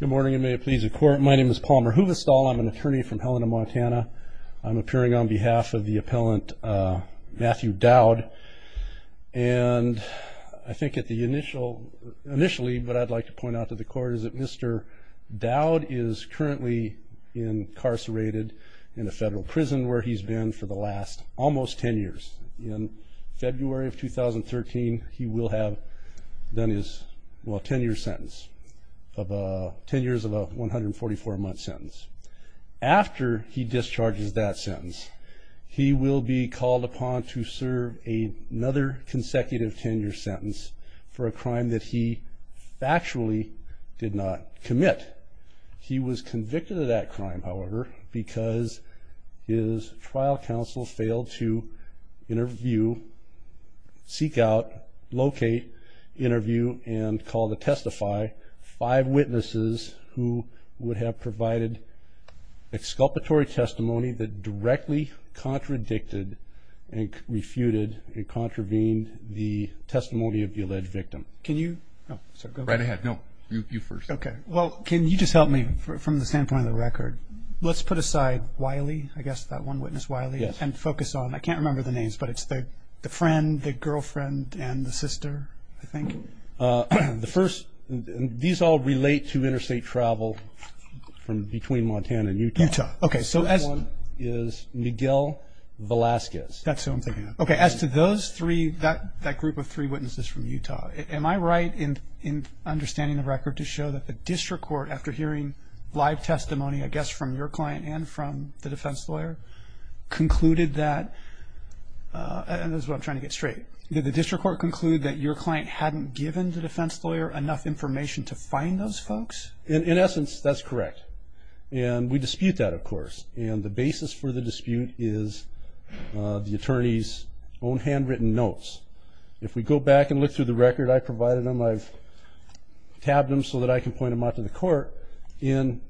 Good morning and may it please the court. My name is Palmer Huvestal. I'm an attorney from Helena, Montana. I'm appearing on behalf of the appellant Matthew Dowd. And I think initially what I'd like to point out to the court is that Mr. Dowd is currently incarcerated in a federal prison where he's been for the last almost 10 years. In February of 2013, he will have done his 10-year sentence, 10 years of a 144-month sentence. After he discharges that sentence, he will be called upon to serve another consecutive 10-year sentence for a crime that he factually did not commit. He was convicted of that crime, however, because his trial counsel failed to interview, seek out, locate, interview, and call to testify five witnesses who would have provided exculpatory testimony that directly contradicted and refuted and contravened the testimony of the alleged victim. Right ahead. No, you first. Okay. Well, can you just help me from the standpoint of the record? Let's put aside Wiley, I guess, that one witness, Wiley, and focus on, I can't remember the names, but it's the friend, the girlfriend, and the sister, I think. The first, these all relate to interstate travel from between Montana and Utah. Utah. Okay. The first one is Miguel Velasquez. That's who I'm thinking of. Okay. As to those three, that group of three witnesses from Utah, am I right in understanding the record to show that the district court, after hearing live testimony, I guess, from your client and from the defense lawyer, concluded that, and this is what I'm trying to get straight, did the district court conclude that your client hadn't given the defense lawyer enough information to find those folks? In essence, that's correct. And we dispute that, of course. And the basis for the dispute is the attorney's own handwritten notes. If we go back and look through the record, I provided them. I've tabbed them so that I can point them out to the court. In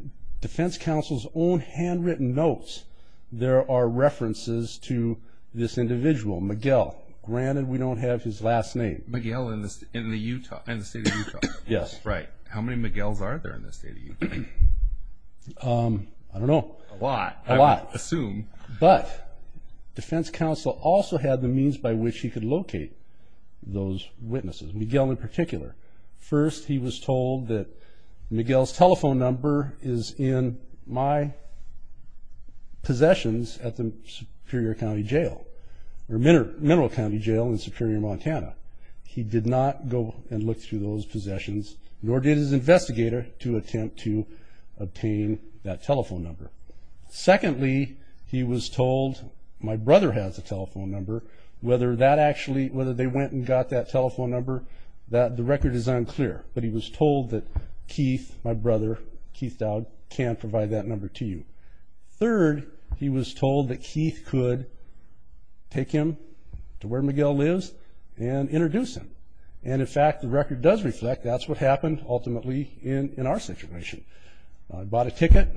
defense counsel's own handwritten notes, there are references to this individual, Miguel. Granted, we don't have his last name. Miguel in the Utah, in the state of Utah. Yes. Right. How many Miguels are there in the state of Utah? I don't know. A lot. A lot. I would assume. But defense counsel also had the means by which he could locate those witnesses, Miguel in particular. First, he was told that Miguel's telephone number is in my possessions at the Superior County Jail, or Mineral County Jail in Superior, Montana. He did not go and look through those possessions, nor did his investigator to attempt to obtain that telephone number. Secondly, he was told, my brother has a telephone number. Whether that actually, whether they went and got that telephone number, the record is unclear. But he was told that Keith, my brother, Keith Dowd, can provide that number to you. Third, he was told that Keith could take him to where Miguel lives and introduce him. And, in fact, the record does reflect that's what happened ultimately in our situation. Bought a ticket,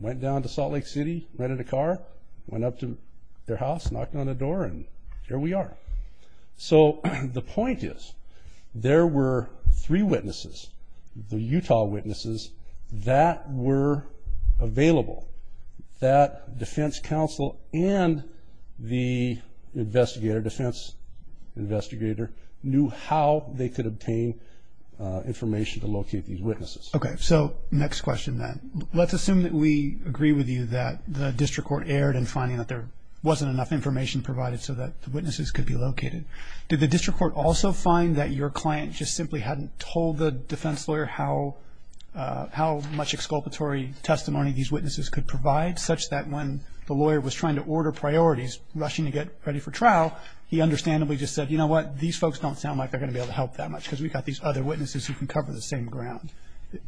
went down to Salt Lake City, rented a car, went up to their house, knocked on the door, and here we are. So the point is, there were three witnesses, the Utah witnesses, that were available, that defense counsel and the investigator, defense investigator, knew how they could obtain information to locate these witnesses. Okay, so next question then. Let's assume that we agree with you that the district court erred in finding that there wasn't enough information provided so that the witnesses could be located. Did the district court also find that your client just simply hadn't told the defense lawyer how much exculpatory testimony these witnesses could provide, such that when the lawyer was trying to order priorities, rushing to get ready for trial, he understandably just said, you know what? These folks don't sound like they're going to be able to help that much because we've got these other witnesses who can cover the same ground.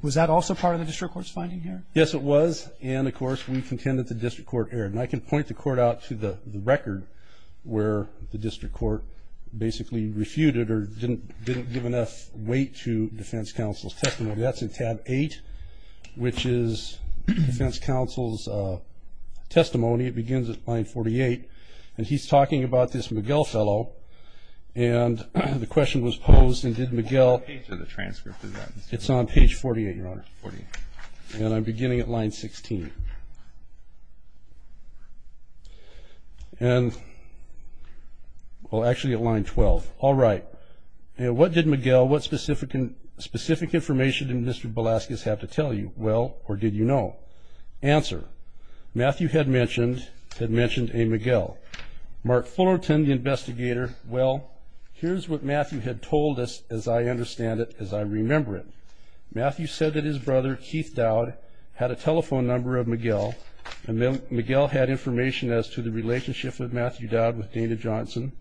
Was that also part of the district court's finding here? Yes, it was. And, of course, we contend that the district court erred. And I can point the court out to the record where the district court basically refuted or didn't give enough weight to defense counsel's testimony. That's in tab 8, which is defense counsel's testimony. It begins at line 48. And he's talking about this Miguel fellow. And the question was posed, and did Miguel— What page of the transcript is that? It's on page 48, Your Honor. And I'm beginning at line 16. And, well, actually at line 12. All right. What did Miguel, what specific information did Mr. Velazquez have to tell you? Well, or did you know? Answer. Matthew had mentioned a Miguel. Mark Fullerton, the investigator, well, here's what Matthew had told us as I understand it, as I remember it. Matthew said that his brother, Keith Dowd, had a telephone number of Miguel. And Miguel had information as to the relationship of Matthew Dowd with Dana Johnson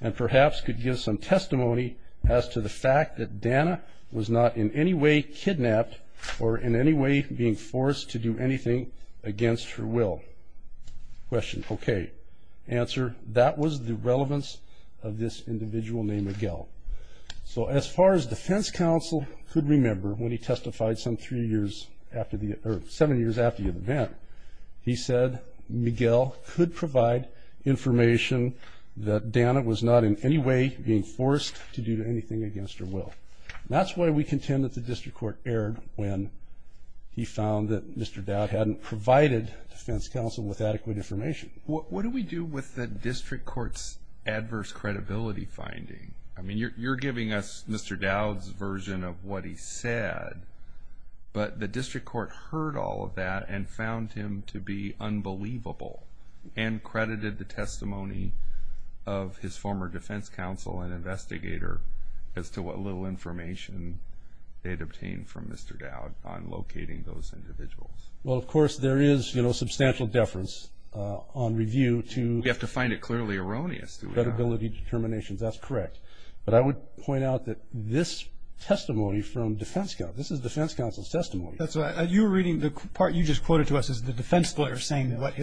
and perhaps could give some testimony as to the fact that Dana was not in any way kidnapped or in any way being forced to do anything against her will. Question. Okay. Answer. That was the relevance of this individual named Miguel. So as far as defense counsel could remember, when he testified seven years after the event, he said Miguel could provide information that Dana was not in any way being forced to do anything against her will. That's why we contend that the district court erred when he found that Mr. Dowd hadn't provided defense counsel with adequate information. What do we do with the district court's adverse credibility finding? I mean, you're giving us Mr. Dowd's version of what he said, but the district court heard all of that and found him to be unbelievable and credited the testimony of his former defense counsel and investigator as to what little information they had obtained from Mr. Dowd on locating those individuals. Well, of course, there is substantial deference on review to That's correct. But I would point out that this testimony from defense counsel, this is defense counsel's testimony. That's right. You were reading the part you just quoted to us as the defense lawyer saying what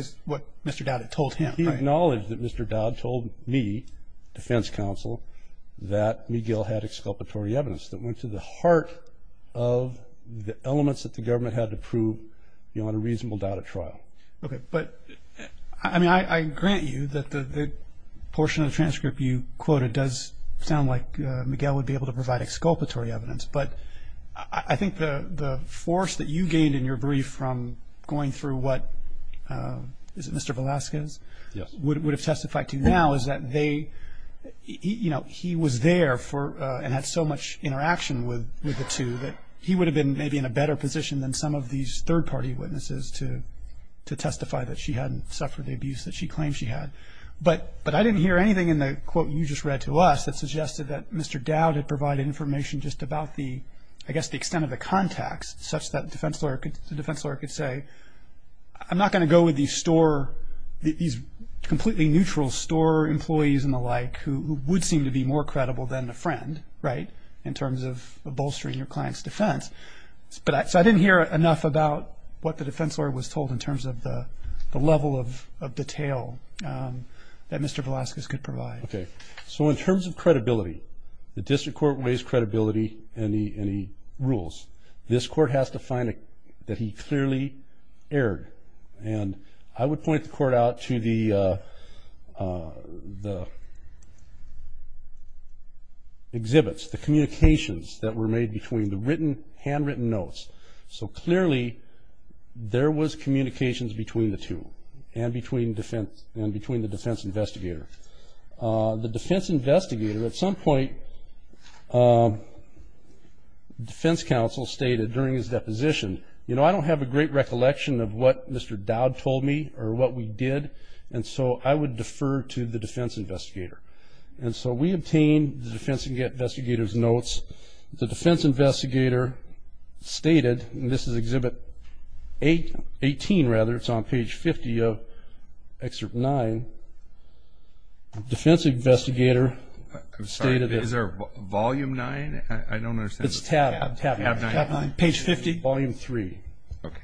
Mr. Dowd had told him. He acknowledged that Mr. Dowd told me, defense counsel, that Miguel had exculpatory evidence that went to the heart of the elements that the government had to prove on a reasonable doubt at trial. Okay. But, I mean, I grant you that the portion of the transcript you quoted does sound like Miguel would be able to provide exculpatory evidence, but I think the force that you gained in your brief from going through what, is it Mr. Velasquez? Yes. Would have testified to now is that they, you know, he was there and had so much interaction with the two that he would have been maybe in a better position than some of these third-party witnesses to testify that she hadn't suffered the abuse that she claimed she had. But I didn't hear anything in the quote you just read to us that suggested that Mr. Dowd had provided information just about the, I guess, the extent of the context such that the defense lawyer could say, I'm not going to go with these store, these completely neutral store employees and the like who would seem to be more So I didn't hear enough about what the defense lawyer was told in terms of the level of detail that Mr. Velasquez could provide. Okay. So in terms of credibility, the district court raised credibility in the rules. This court has to find that he clearly erred. And I would point the court out to the exhibits, the communications that were made between the written, handwritten notes. So clearly there was communications between the two and between the defense investigator. The defense investigator at some point, defense counsel stated during his deposition, you know, I don't have a great recollection of what Mr. Dowd told me or what we did, and so I would defer to the defense investigator. And so we obtained the defense investigator's notes. The defense investigator stated, and this is Exhibit 18, rather. It's on page 50 of Excerpt 9. The defense investigator stated this. I'm sorry. Is there Volume 9? I don't understand. It's tab 9. Page 50? Volume 3. Okay.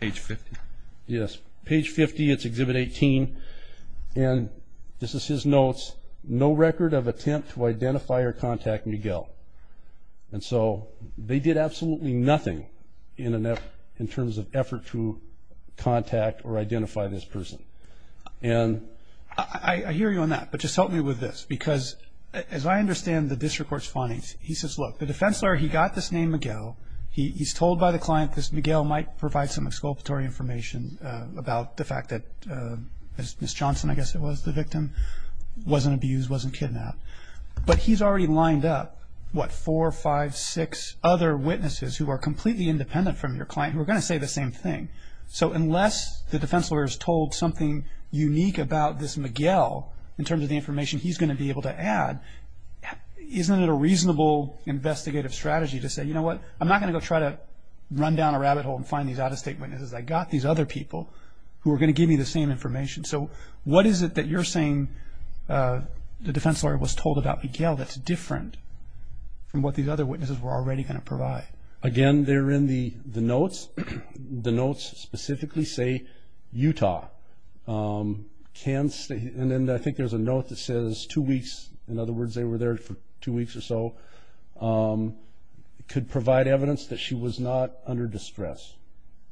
Page 50? Yes. Page 50. It's Exhibit 18. And this is his notes. No record of attempt to identify or contact Miguel. And so they did absolutely nothing in terms of effort to contact or identify this person. And I hear you on that, but just help me with this, because as I understand the district court's findings, he says, look, the defense lawyer, he got this name Miguel. He's told by the client this Miguel might provide some exculpatory information about the fact that Ms. Johnson, I guess it was, the victim, wasn't abused, wasn't kidnapped. But he's already lined up, what, four, five, six other witnesses who are completely independent from your client who are going to say the same thing. So unless the defense lawyer has told something unique about this Miguel in terms of the information he's going to be able to add, isn't it a reasonable investigative strategy to say, you know what, I'm not going to go try to run down a rabbit hole and find these out-of-state witnesses. I've got these other people who are going to give me the same information. So what is it that you're saying the defense lawyer was told about Miguel that's different from what these other witnesses were already going to provide? Again, they're in the notes. The notes specifically say Utah. And I think there's a note that says two weeks. In other words, they were there for two weeks or so. It could provide evidence that she was not under distress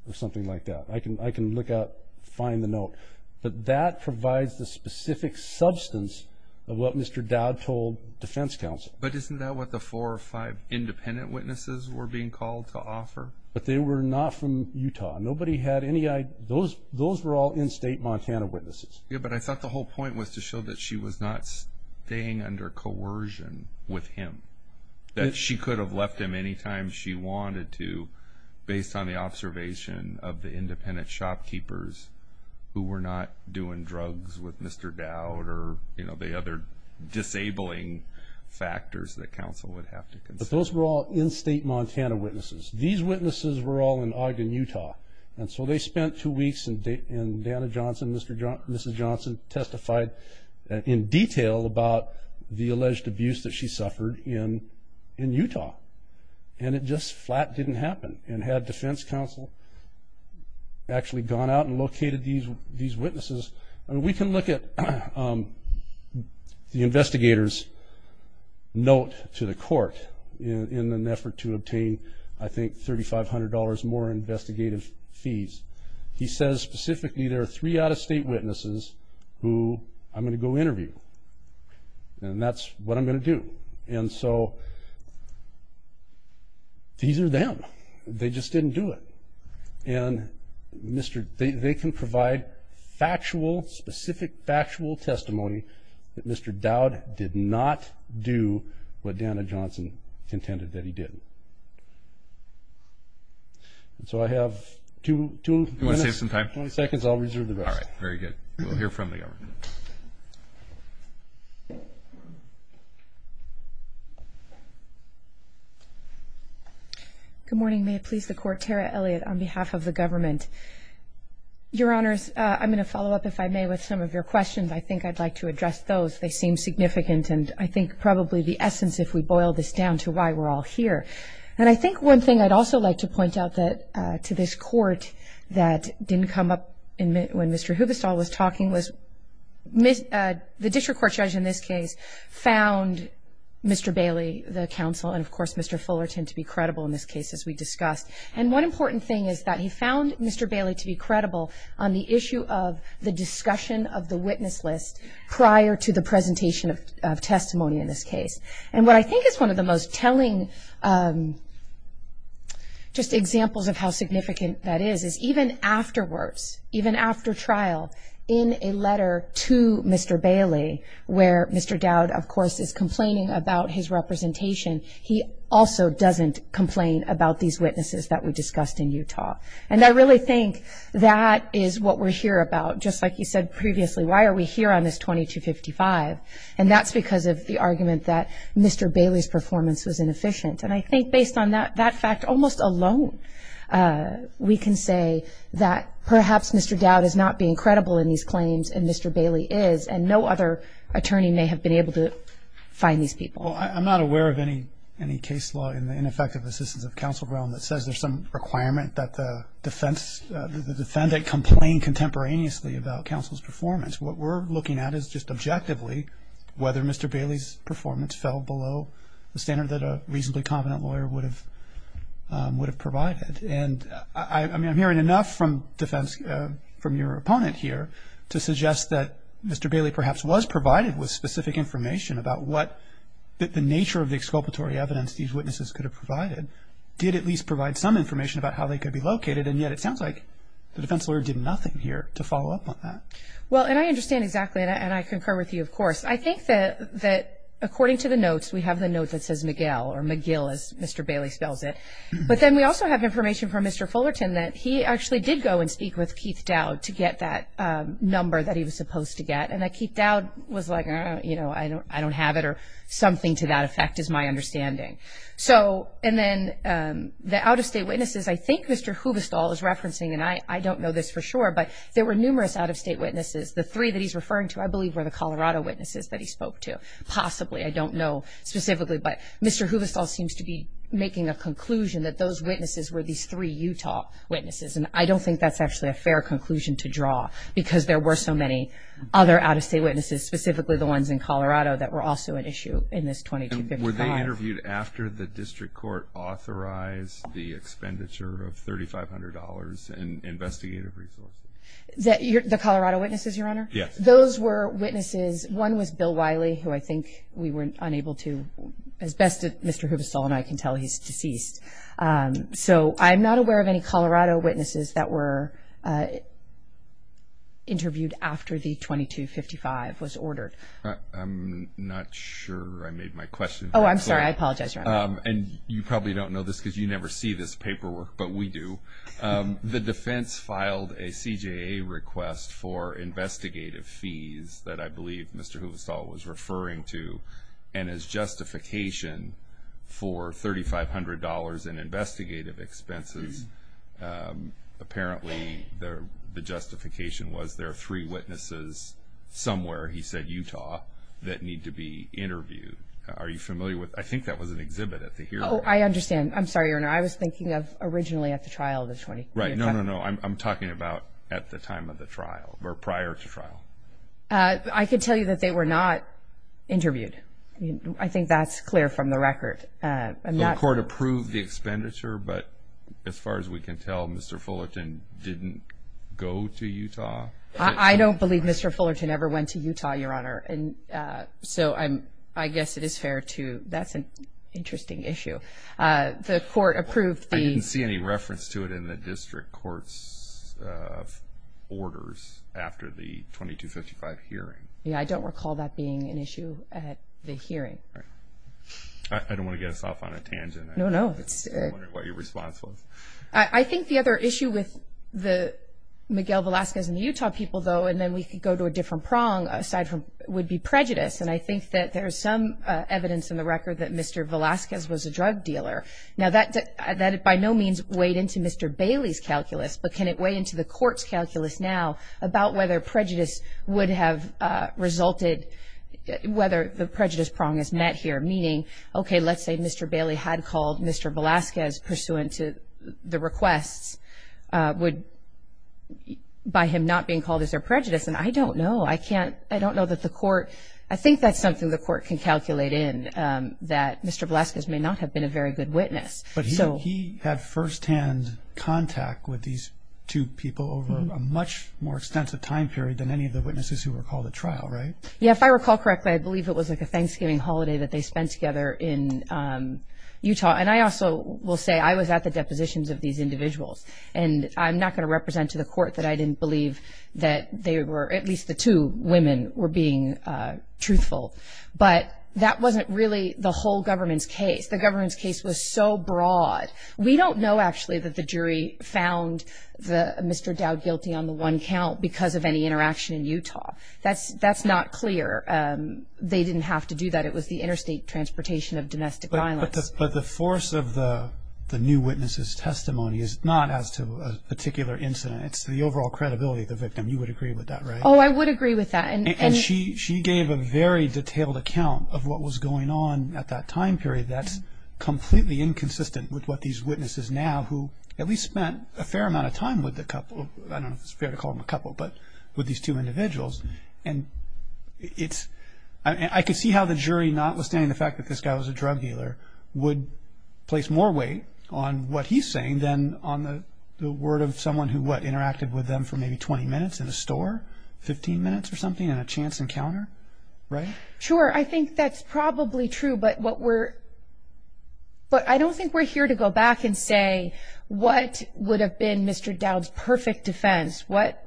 or something like that. I can look up, find the note. But that provides the specific substance of what Mr. Dowd told defense counsel. But isn't that what the four or five independent witnesses were being called to offer? But they were not from Utah. Nobody had any idea. Those were all in-state Montana witnesses. Yeah, but I thought the whole point was to show that she was not staying under coercion with him, that she could have left him any time she wanted to, based on the observation of the independent shopkeepers who were not doing drugs with Mr. Dowd or, you know, the other disabling factors that counsel would have to consider. But those were all in-state Montana witnesses. These witnesses were all in Ogden, Utah. And so they spent two weeks, and Dana Johnson, Mrs. Johnson, testified in detail about the alleged abuse that she suffered in Utah. And it just flat didn't happen. And had defense counsel actually gone out and located these witnesses, we can look at the investigator's note to the court in an effort to obtain, I think, $3,500 more investigative fees. He says specifically there are three out-of-state witnesses who I'm going to go interview, and that's what I'm going to do. And so these are them. They just didn't do it. And they can provide factual, specific factual testimony that Mr. Dowd did not do what Dana Johnson contended that he didn't. And so I have two minutes. You want to save some time? 20 seconds, I'll reserve the rest. All right, very good. We'll hear from the government. Good morning. May it please the Court, Tara Elliott on behalf of the government. Your Honors, I'm going to follow up, if I may, with some of your questions. I think I'd like to address those. They seem significant, and I think probably the essence, if we boil this down to why we're all here. And I think one thing I'd also like to point out to this Court that didn't come up when Mr. Hubestall was talking was the district court judge in this case found Mr. Bailey, the counsel, and, of course, Mr. Fullerton to be credible in this case, as we discussed. And one important thing is that he found Mr. Bailey to be credible on the issue of the discussion of the presentation of testimony in this case. And what I think is one of the most telling just examples of how significant that is, is even afterwards, even after trial, in a letter to Mr. Bailey where Mr. Dowd, of course, is complaining about his representation, he also doesn't complain about these witnesses that we discussed in Utah. And I really think that is what we're here about. Just like you said previously, why are we here on this 2255? And that's because of the argument that Mr. Bailey's performance was inefficient. And I think based on that fact almost alone, we can say that perhaps Mr. Dowd is not being credible in these claims, and Mr. Bailey is, and no other attorney may have been able to find these people. I'm not aware of any case law in the ineffective assistance of counsel realm that says there's some requirement that the defendant complain contemporaneously about counsel's performance. What we're looking at is just objectively whether Mr. Bailey's performance fell below the standard that a reasonably confident lawyer would have provided. And I'm hearing enough from defense, from your opponent here, to suggest that Mr. Bailey perhaps was provided with specific information about what the nature of the And yet it sounds like the defense lawyer did nothing here to follow up on that. Well, and I understand exactly, and I concur with you, of course. I think that according to the notes, we have the note that says Miguel, or McGill as Mr. Bailey spells it. But then we also have information from Mr. Fullerton that he actually did go and speak with Keith Dowd to get that number that he was supposed to get. And that Keith Dowd was like, you know, I don't have it, or something to that effect is my understanding. And then the out-of-state witnesses, I think Mr. Huvestal is referencing, and I don't know this for sure, but there were numerous out-of-state witnesses. The three that he's referring to, I believe, were the Colorado witnesses that he spoke to. Possibly. I don't know specifically. But Mr. Huvestal seems to be making a conclusion that those witnesses were these three Utah witnesses. And I don't think that's actually a fair conclusion to draw because there were so many other out-of-state witnesses, specifically the ones in Colorado, that were also an issue in this 2255. Were they interviewed after the district court authorized the expenditure of $3,500 in investigative resources? The Colorado witnesses, Your Honor? Yes. Those were witnesses. One was Bill Wiley, who I think we were unable to, as best Mr. Huvestal and I can tell, he's deceased. So I'm not aware of any Colorado witnesses that were interviewed after the 2255 was ordered. I'm not sure I made my question. Oh, I'm sorry. I apologize, Your Honor. And you probably don't know this because you never see this paperwork, but we do. The defense filed a CJA request for investigative fees that I believe Mr. Huvestal was referring to. And as justification for $3,500 in investigative expenses, apparently the justification was there are three witnesses somewhere, he said Utah, that need to be interviewed. Are you familiar with, I think that was an exhibit at the hearing. Oh, I understand. I'm sorry, Your Honor. I was thinking of originally at the trial of the 2255. Right. No, no, no. I'm talking about at the time of the trial or prior to trial. I can tell you that they were not interviewed. I think that's clear from the record. The court approved the expenditure, but as far as we can tell, Mr. Fullerton didn't go to Utah. I don't believe Mr. Fullerton ever went to Utah, Your Honor. So I guess it is fair to, that's an interesting issue. The court approved the- I didn't see any reference to it in the district court's orders after the 2255 hearing. Yeah, I don't recall that being an issue at the hearing. All right. I don't want to get us off on a tangent. No, no. I'm wondering what your response was. I think the other issue with the Miguel Velazquez and the Utah people, though, and then we could go to a And I think that there is some evidence in the record that Mr. Velazquez was a drug dealer. Now, that by no means weighed into Mr. Bailey's calculus, but can it weigh into the court's calculus now about whether prejudice would have resulted, whether the prejudice prong is met here, meaning, okay, let's say Mr. Bailey had called Mr. Velazquez pursuant to the requests by him not being called as their prejudice. And I don't know. I can't-I don't know that the court-I think that's something the court can calculate in, that Mr. Velazquez may not have been a very good witness. But he had firsthand contact with these two people over a much more extensive time period than any of the witnesses who were called at trial, right? Yeah, if I recall correctly, I believe it was like a Thanksgiving holiday that they spent together in Utah. And I also will say I was at the depositions of these individuals. And I'm not going to represent to the court that I didn't believe that they were-at least the two women were being truthful. But that wasn't really the whole government's case. The government's case was so broad. We don't know, actually, that the jury found Mr. Dowd guilty on the one count because of any interaction in Utah. That's not clear. They didn't have to do that. It was the interstate transportation of domestic violence. But the force of the new witness's testimony is not as to a particular incident. It's the overall credibility of the victim. You would agree with that, right? Oh, I would agree with that. And she gave a very detailed account of what was going on at that time period that's completely inconsistent with what these witnesses now, who at least spent a fair amount of time with the couple-I don't know if it's fair to call them a couple- but with these two individuals. And I could see how the jury, notwithstanding the fact that this guy was a drug dealer, would place more weight on what he's saying than on the word of someone who, what, interacted with them for maybe 20 minutes in a store, 15 minutes or something in a chance encounter, right? Sure. I think that's probably true. But I don't think we're here to go back and say what would have been Mr. Dowd's perfect defense. What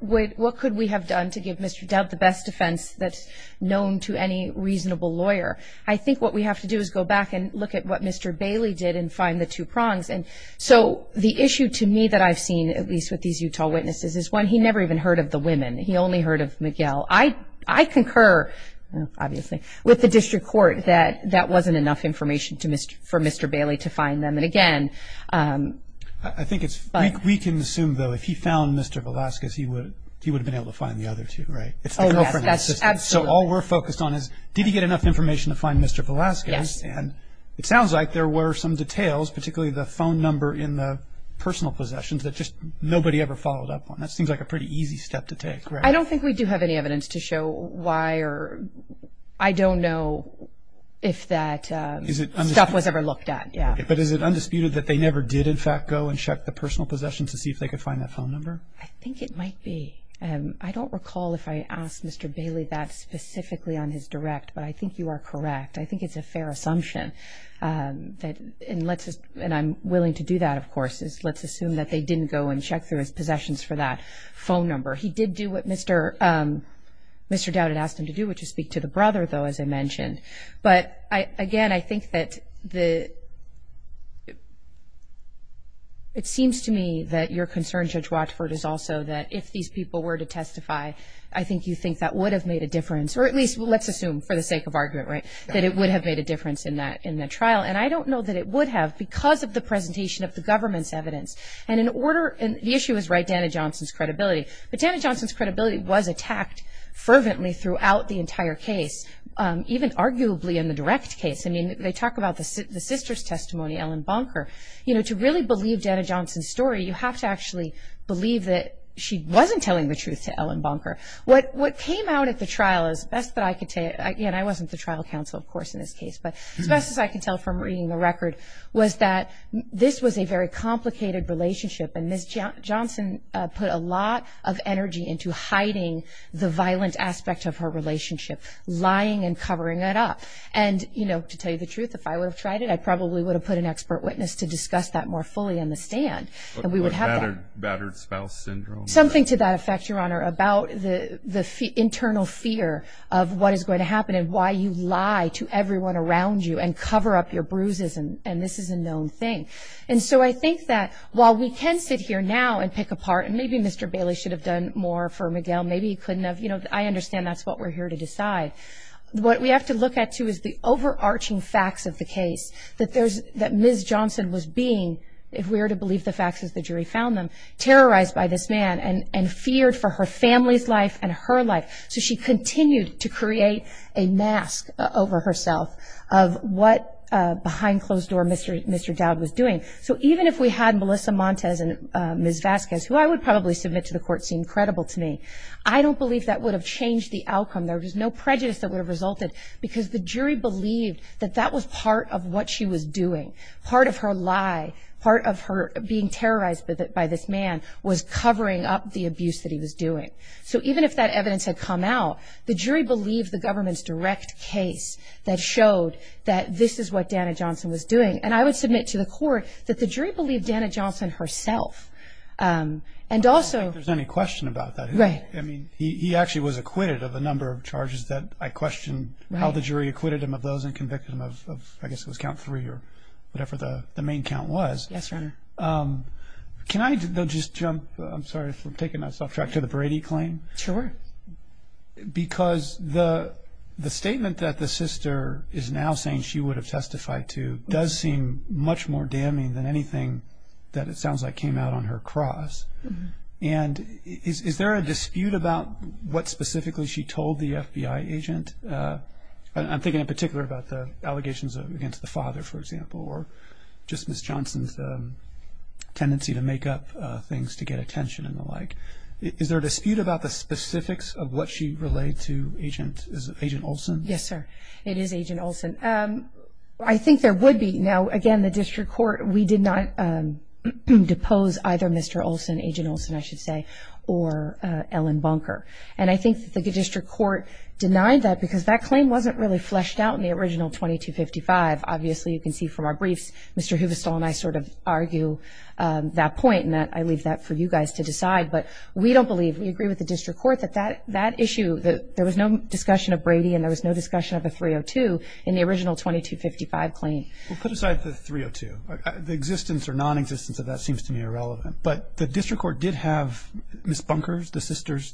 could we have done to give Mr. Dowd the best defense that's known to any reasonable lawyer? I think what we have to do is go back and look at what Mr. Bailey did and find the two prongs. And so the issue to me that I've seen, at least with these Utah witnesses, is one, he never even heard of the women. He only heard of Miguel. I concur, obviously, with the district court that that wasn't enough information for Mr. Bailey to find them. I think we can assume, though, if he found Mr. Velazquez, he would have been able to find the other two, right? Oh, yes, absolutely. So all we're focused on is did he get enough information to find Mr. Velazquez? Yes. And it sounds like there were some details, particularly the phone number in the personal possessions, that just nobody ever followed up on. That seems like a pretty easy step to take, right? I don't think we do have any evidence to show why or I don't know if that stuff was ever looked at, yeah. But is it undisputed that they never did, in fact, go and check the personal possessions to see if they could find that phone number? I think it might be. I don't recall if I asked Mr. Bailey that specifically on his direct, but I think you are correct. I think it's a fair assumption, and I'm willing to do that, of course. Let's assume that they didn't go and check through his possessions for that phone number. He did do what Mr. Dowd had asked him to do, which is speak to the brother, though, as I mentioned. But, again, I think that it seems to me that your concern, Judge Watford, is also that if these people were to testify, I think you think that would have made a difference, or at least let's assume for the sake of argument, right, that it would have made a difference in the trial. And I don't know that it would have because of the presentation of the government's evidence. And the issue is, right, Dana Johnson's credibility. But Dana Johnson's credibility was attacked fervently throughout the entire case, even arguably in the direct case. I mean, they talk about the sister's testimony, Ellen Bonker. You know, to really believe Dana Johnson's story, you have to actually believe that she wasn't telling the truth to Ellen Bonker. What came out at the trial, as best that I could tell you, and I wasn't the trial counsel, of course, in this case, but as best as I could tell from reading the record, was that this was a very complicated relationship, and Ms. Johnson put a lot of energy into hiding the violent aspect of her relationship, lying and covering it up. And, you know, to tell you the truth, if I would have tried it, I probably would have put an expert witness to discuss that more fully in the stand, and we would have that. What about battered spouse syndrome? Something to that effect, Your Honor, about the internal fear of what is going to happen and why you lie to everyone around you and cover up your bruises, and this is a known thing. And so I think that while we can sit here now and pick apart, and maybe Mr. Bailey should have done more for Miguel, maybe he couldn't have. You know, I understand that's what we're here to decide. What we have to look at, too, is the overarching facts of the case, that Ms. Johnson was being, if we were to believe the facts as the jury found them, terrorized by this man and feared for her family's life and her life. So she continued to create a mask over herself of what behind closed door Mr. Dowd was doing. So even if we had Melissa Montes and Ms. Vasquez, who I would probably submit to the court, seem credible to me, I don't believe that would have changed the outcome. There was no prejudice that would have resulted because the jury believed that that was part of what she was doing. Part of her lie, part of her being terrorized by this man was covering up the abuse that he was doing. So even if that evidence had come out, the jury believed the government's direct case that showed that this is what Dana Johnson was doing. And I would submit to the court that the jury believed Dana Johnson herself. I don't think there's any question about that. Right. I mean, he actually was acquitted of a number of charges that I question how the jury acquitted him of those and convicted him of, I guess it was count three or whatever the main count was. Yes, Your Honor. Can I just jump, I'm sorry for taking us off track, to the Brady claim? Sure. Because the statement that the sister is now saying she would have testified to does seem much more damning than anything that it sounds like came out on her cross. And is there a dispute about what specifically she told the FBI agent? I'm thinking in particular about the allegations against the father, for example, or just Ms. Johnson's tendency to make up things to get attention and the like. Is there a dispute about the specifics of what she relayed to Agent Olson? Yes, sir. It is Agent Olson. I think there would be. Now, again, the district court, we did not depose either Mr. Olson, Agent Olson, I should say, or Ellen Bunker. And I think the district court denied that because that claim wasn't really fleshed out in the original 2255. Obviously, you can see from our briefs, Mr. Huvestal and I sort of argue that point and I leave that for you guys to decide. But we don't believe, we agree with the district court that that issue, that there was no discussion of Brady and there was no discussion of a 302 in the original 2255 claim. Well, put aside the 302. The existence or nonexistence of that seems to me irrelevant. But the district court did have Ms. Bunker's, the sister's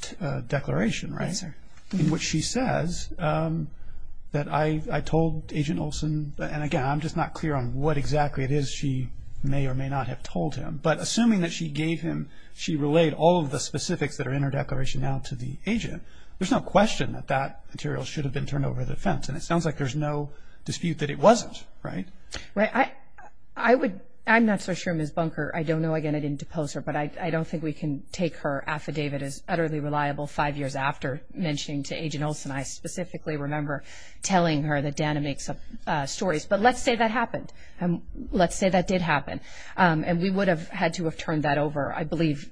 declaration, right? Yes, sir. In which she says that, I told Agent Olson, and again, I'm just not clear on what exactly it is she may or may not have told him. But assuming that she gave him, she relayed all of the specifics that are in her declaration now to the agent, there's no question that that material should have been turned over to the defense. And it sounds like there's no dispute that it wasn't, right? Right. I would, I'm not so sure Ms. Bunker, I don't know. Again, I didn't depose her. But I don't think we can take her affidavit as utterly reliable five years after mentioning to Agent Olson. I specifically remember telling her that Dana makes up stories. But let's say that happened. Let's say that did happen. And we would have had to have turned that over. I believe,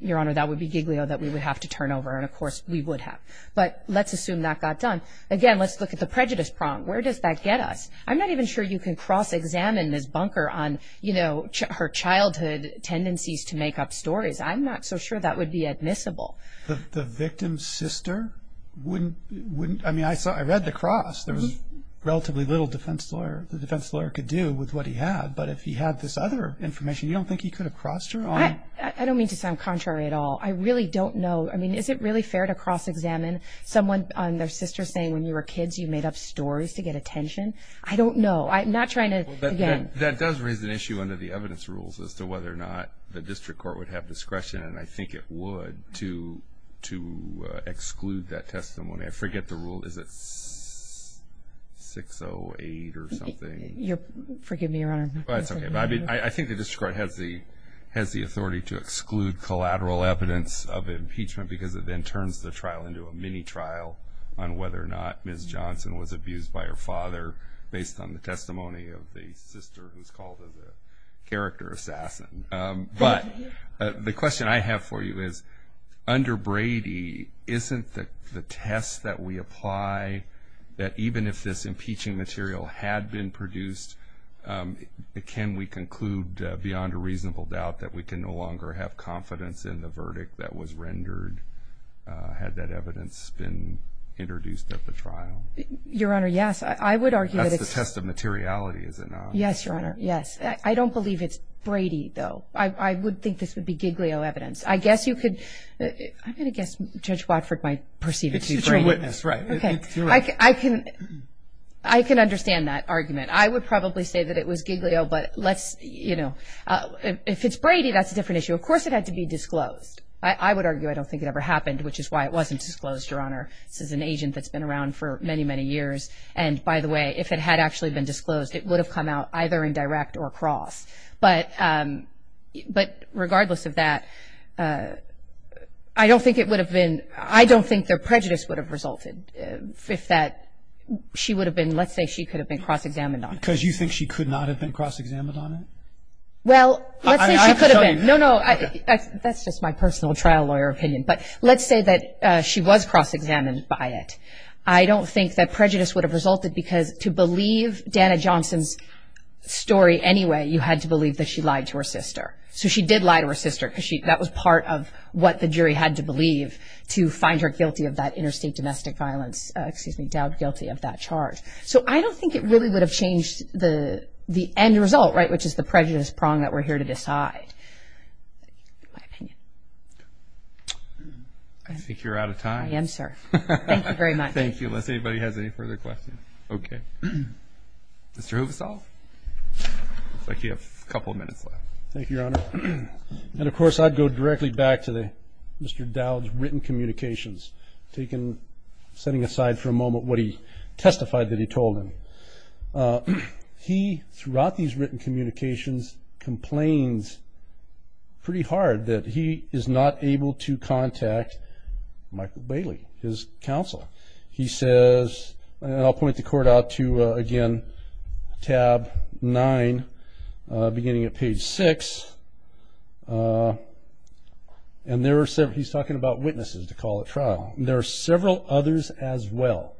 Your Honor, that would be giglio that we would have to turn over. And, of course, we would have. But let's assume that got done. Again, let's look at the prejudice prong. Where does that get us? I'm not even sure you can cross-examine Ms. Bunker on, you know, her childhood tendencies to make up stories. I'm not so sure that would be admissible. The victim's sister wouldn't, I mean, I read the cross. There was relatively little the defense lawyer could do with what he had. But if he had this other information, you don't think he could have crossed her on it? I don't mean to sound contrary at all. I really don't know. I mean, is it really fair to cross-examine someone on their sister saying when you were kids you made up stories to get attention? I don't know. I'm not trying to, again. That does raise an issue under the evidence rules as to whether or not the district court would have discretion, and I think it would, to exclude that testimony. I forget the rule. Is it 608 or something? Forgive me, Your Honor. That's okay. I think the district court has the authority to exclude collateral evidence of impeachment because it then turns the trial into a mini-trial on whether or not Ms. Johnson was abused by her father based on the testimony of the sister who's called a character assassin. But the question I have for you is, under Brady, isn't the test that we apply, that even if this impeaching material had been produced, can we conclude beyond a reasonable doubt that we can no longer have confidence in the verdict that was rendered had that evidence been introduced at the trial? Your Honor, yes. I would argue that it's. That's the test of materiality, is it not? Yes, Your Honor. Yes. I don't believe it's Brady, though. I would think this would be Giglio evidence. I guess you could. I'm going to guess Judge Watford might perceive it to be Brady. It's a witness, right. Okay. I can understand that argument. I would probably say that it was Giglio, but let's, you know. If it's Brady, that's a different issue. Of course it had to be disclosed. I would argue I don't think it ever happened, which is why it wasn't disclosed, Your Honor. This is an agent that's been around for many, many years. And, by the way, if it had actually been disclosed, it would have come out either indirect or cross. But regardless of that, I don't think it would have been – I don't think their prejudice would have resulted if that – she would have been – let's say she could have been cross-examined on it. Because you think she could not have been cross-examined on it? Well, let's say she could have been. I have to tell you. No, no. That's just my personal trial lawyer opinion. But let's say that she was cross-examined by it. I don't think that prejudice would have resulted, because to believe Dana Johnson's story anyway, you had to believe that she lied to her sister. So she did lie to her sister, because that was part of what the jury had to believe to find her guilty of that interstate domestic violence – excuse me, doubt guilty of that charge. So I don't think it really would have changed the end result, right, which is the prejudice prong that we're here to decide, in my opinion. I think you're out of time. I am, sir. Thank you very much. Thank you. Unless anybody has any further questions. Okay. Mr. Huvosof? Looks like you have a couple of minutes left. Thank you, Your Honor. And, of course, I'd go directly back to Mr. Dowd's written communications, setting aside for a moment what he testified that he told him. He, throughout these written communications, complains pretty hard that he is not able to contact Michael Bailey, his counsel. He says, and I'll point the court out to, again, tab 9, beginning at page 6, and there are several – he's talking about witnesses to call a trial. There are several others as well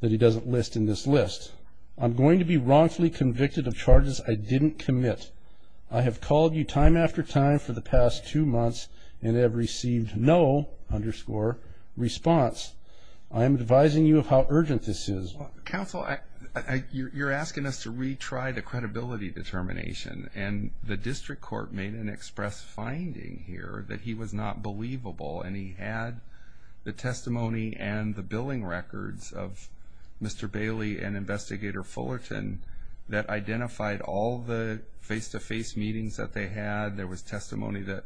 that he doesn't list in this list. I'm going to be wrongfully convicted of charges I didn't commit. I have called you time after time for the past two months and have received no, underscore, response. I am advising you of how urgent this is. Counsel, you're asking us to retry the credibility determination, and the district court made an express finding here that he was not believable and he had the testimony and the billing records of Mr. Bailey and Investigator Fullerton that identified all the face-to-face meetings that they had. There was testimony that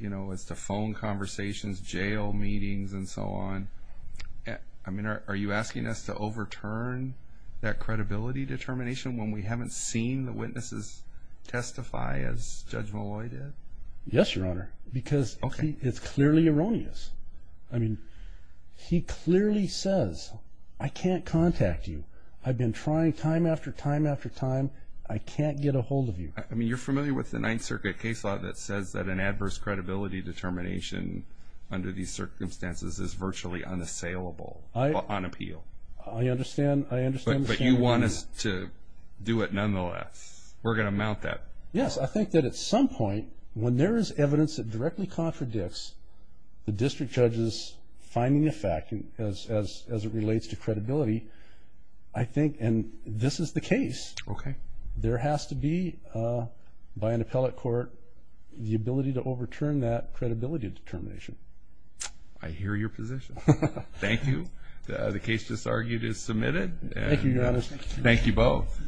was to phone conversations, jail meetings, and so on. I mean, are you asking us to overturn that credibility determination when we haven't seen the witnesses testify as Judge Malloy did? Yes, Your Honor, because it's clearly erroneous. I mean, he clearly says, I can't contact you. I've been trying time after time after time. I can't get a hold of you. I mean, you're familiar with the Ninth Circuit case law that says that an adverse credibility determination under these circumstances is virtually unassailable on appeal. I understand. But you want us to do it nonetheless. We're going to mount that. Yes, I think that at some point, when there is evidence that directly contradicts the district judge's finding of fact as it relates to credibility, I think, and this is the case, there has to be, by an appellate court, the ability to overturn that credibility determination. I hear your position. Thank you. The case that's argued is submitted. Thank you, Your Honor. Thank you both.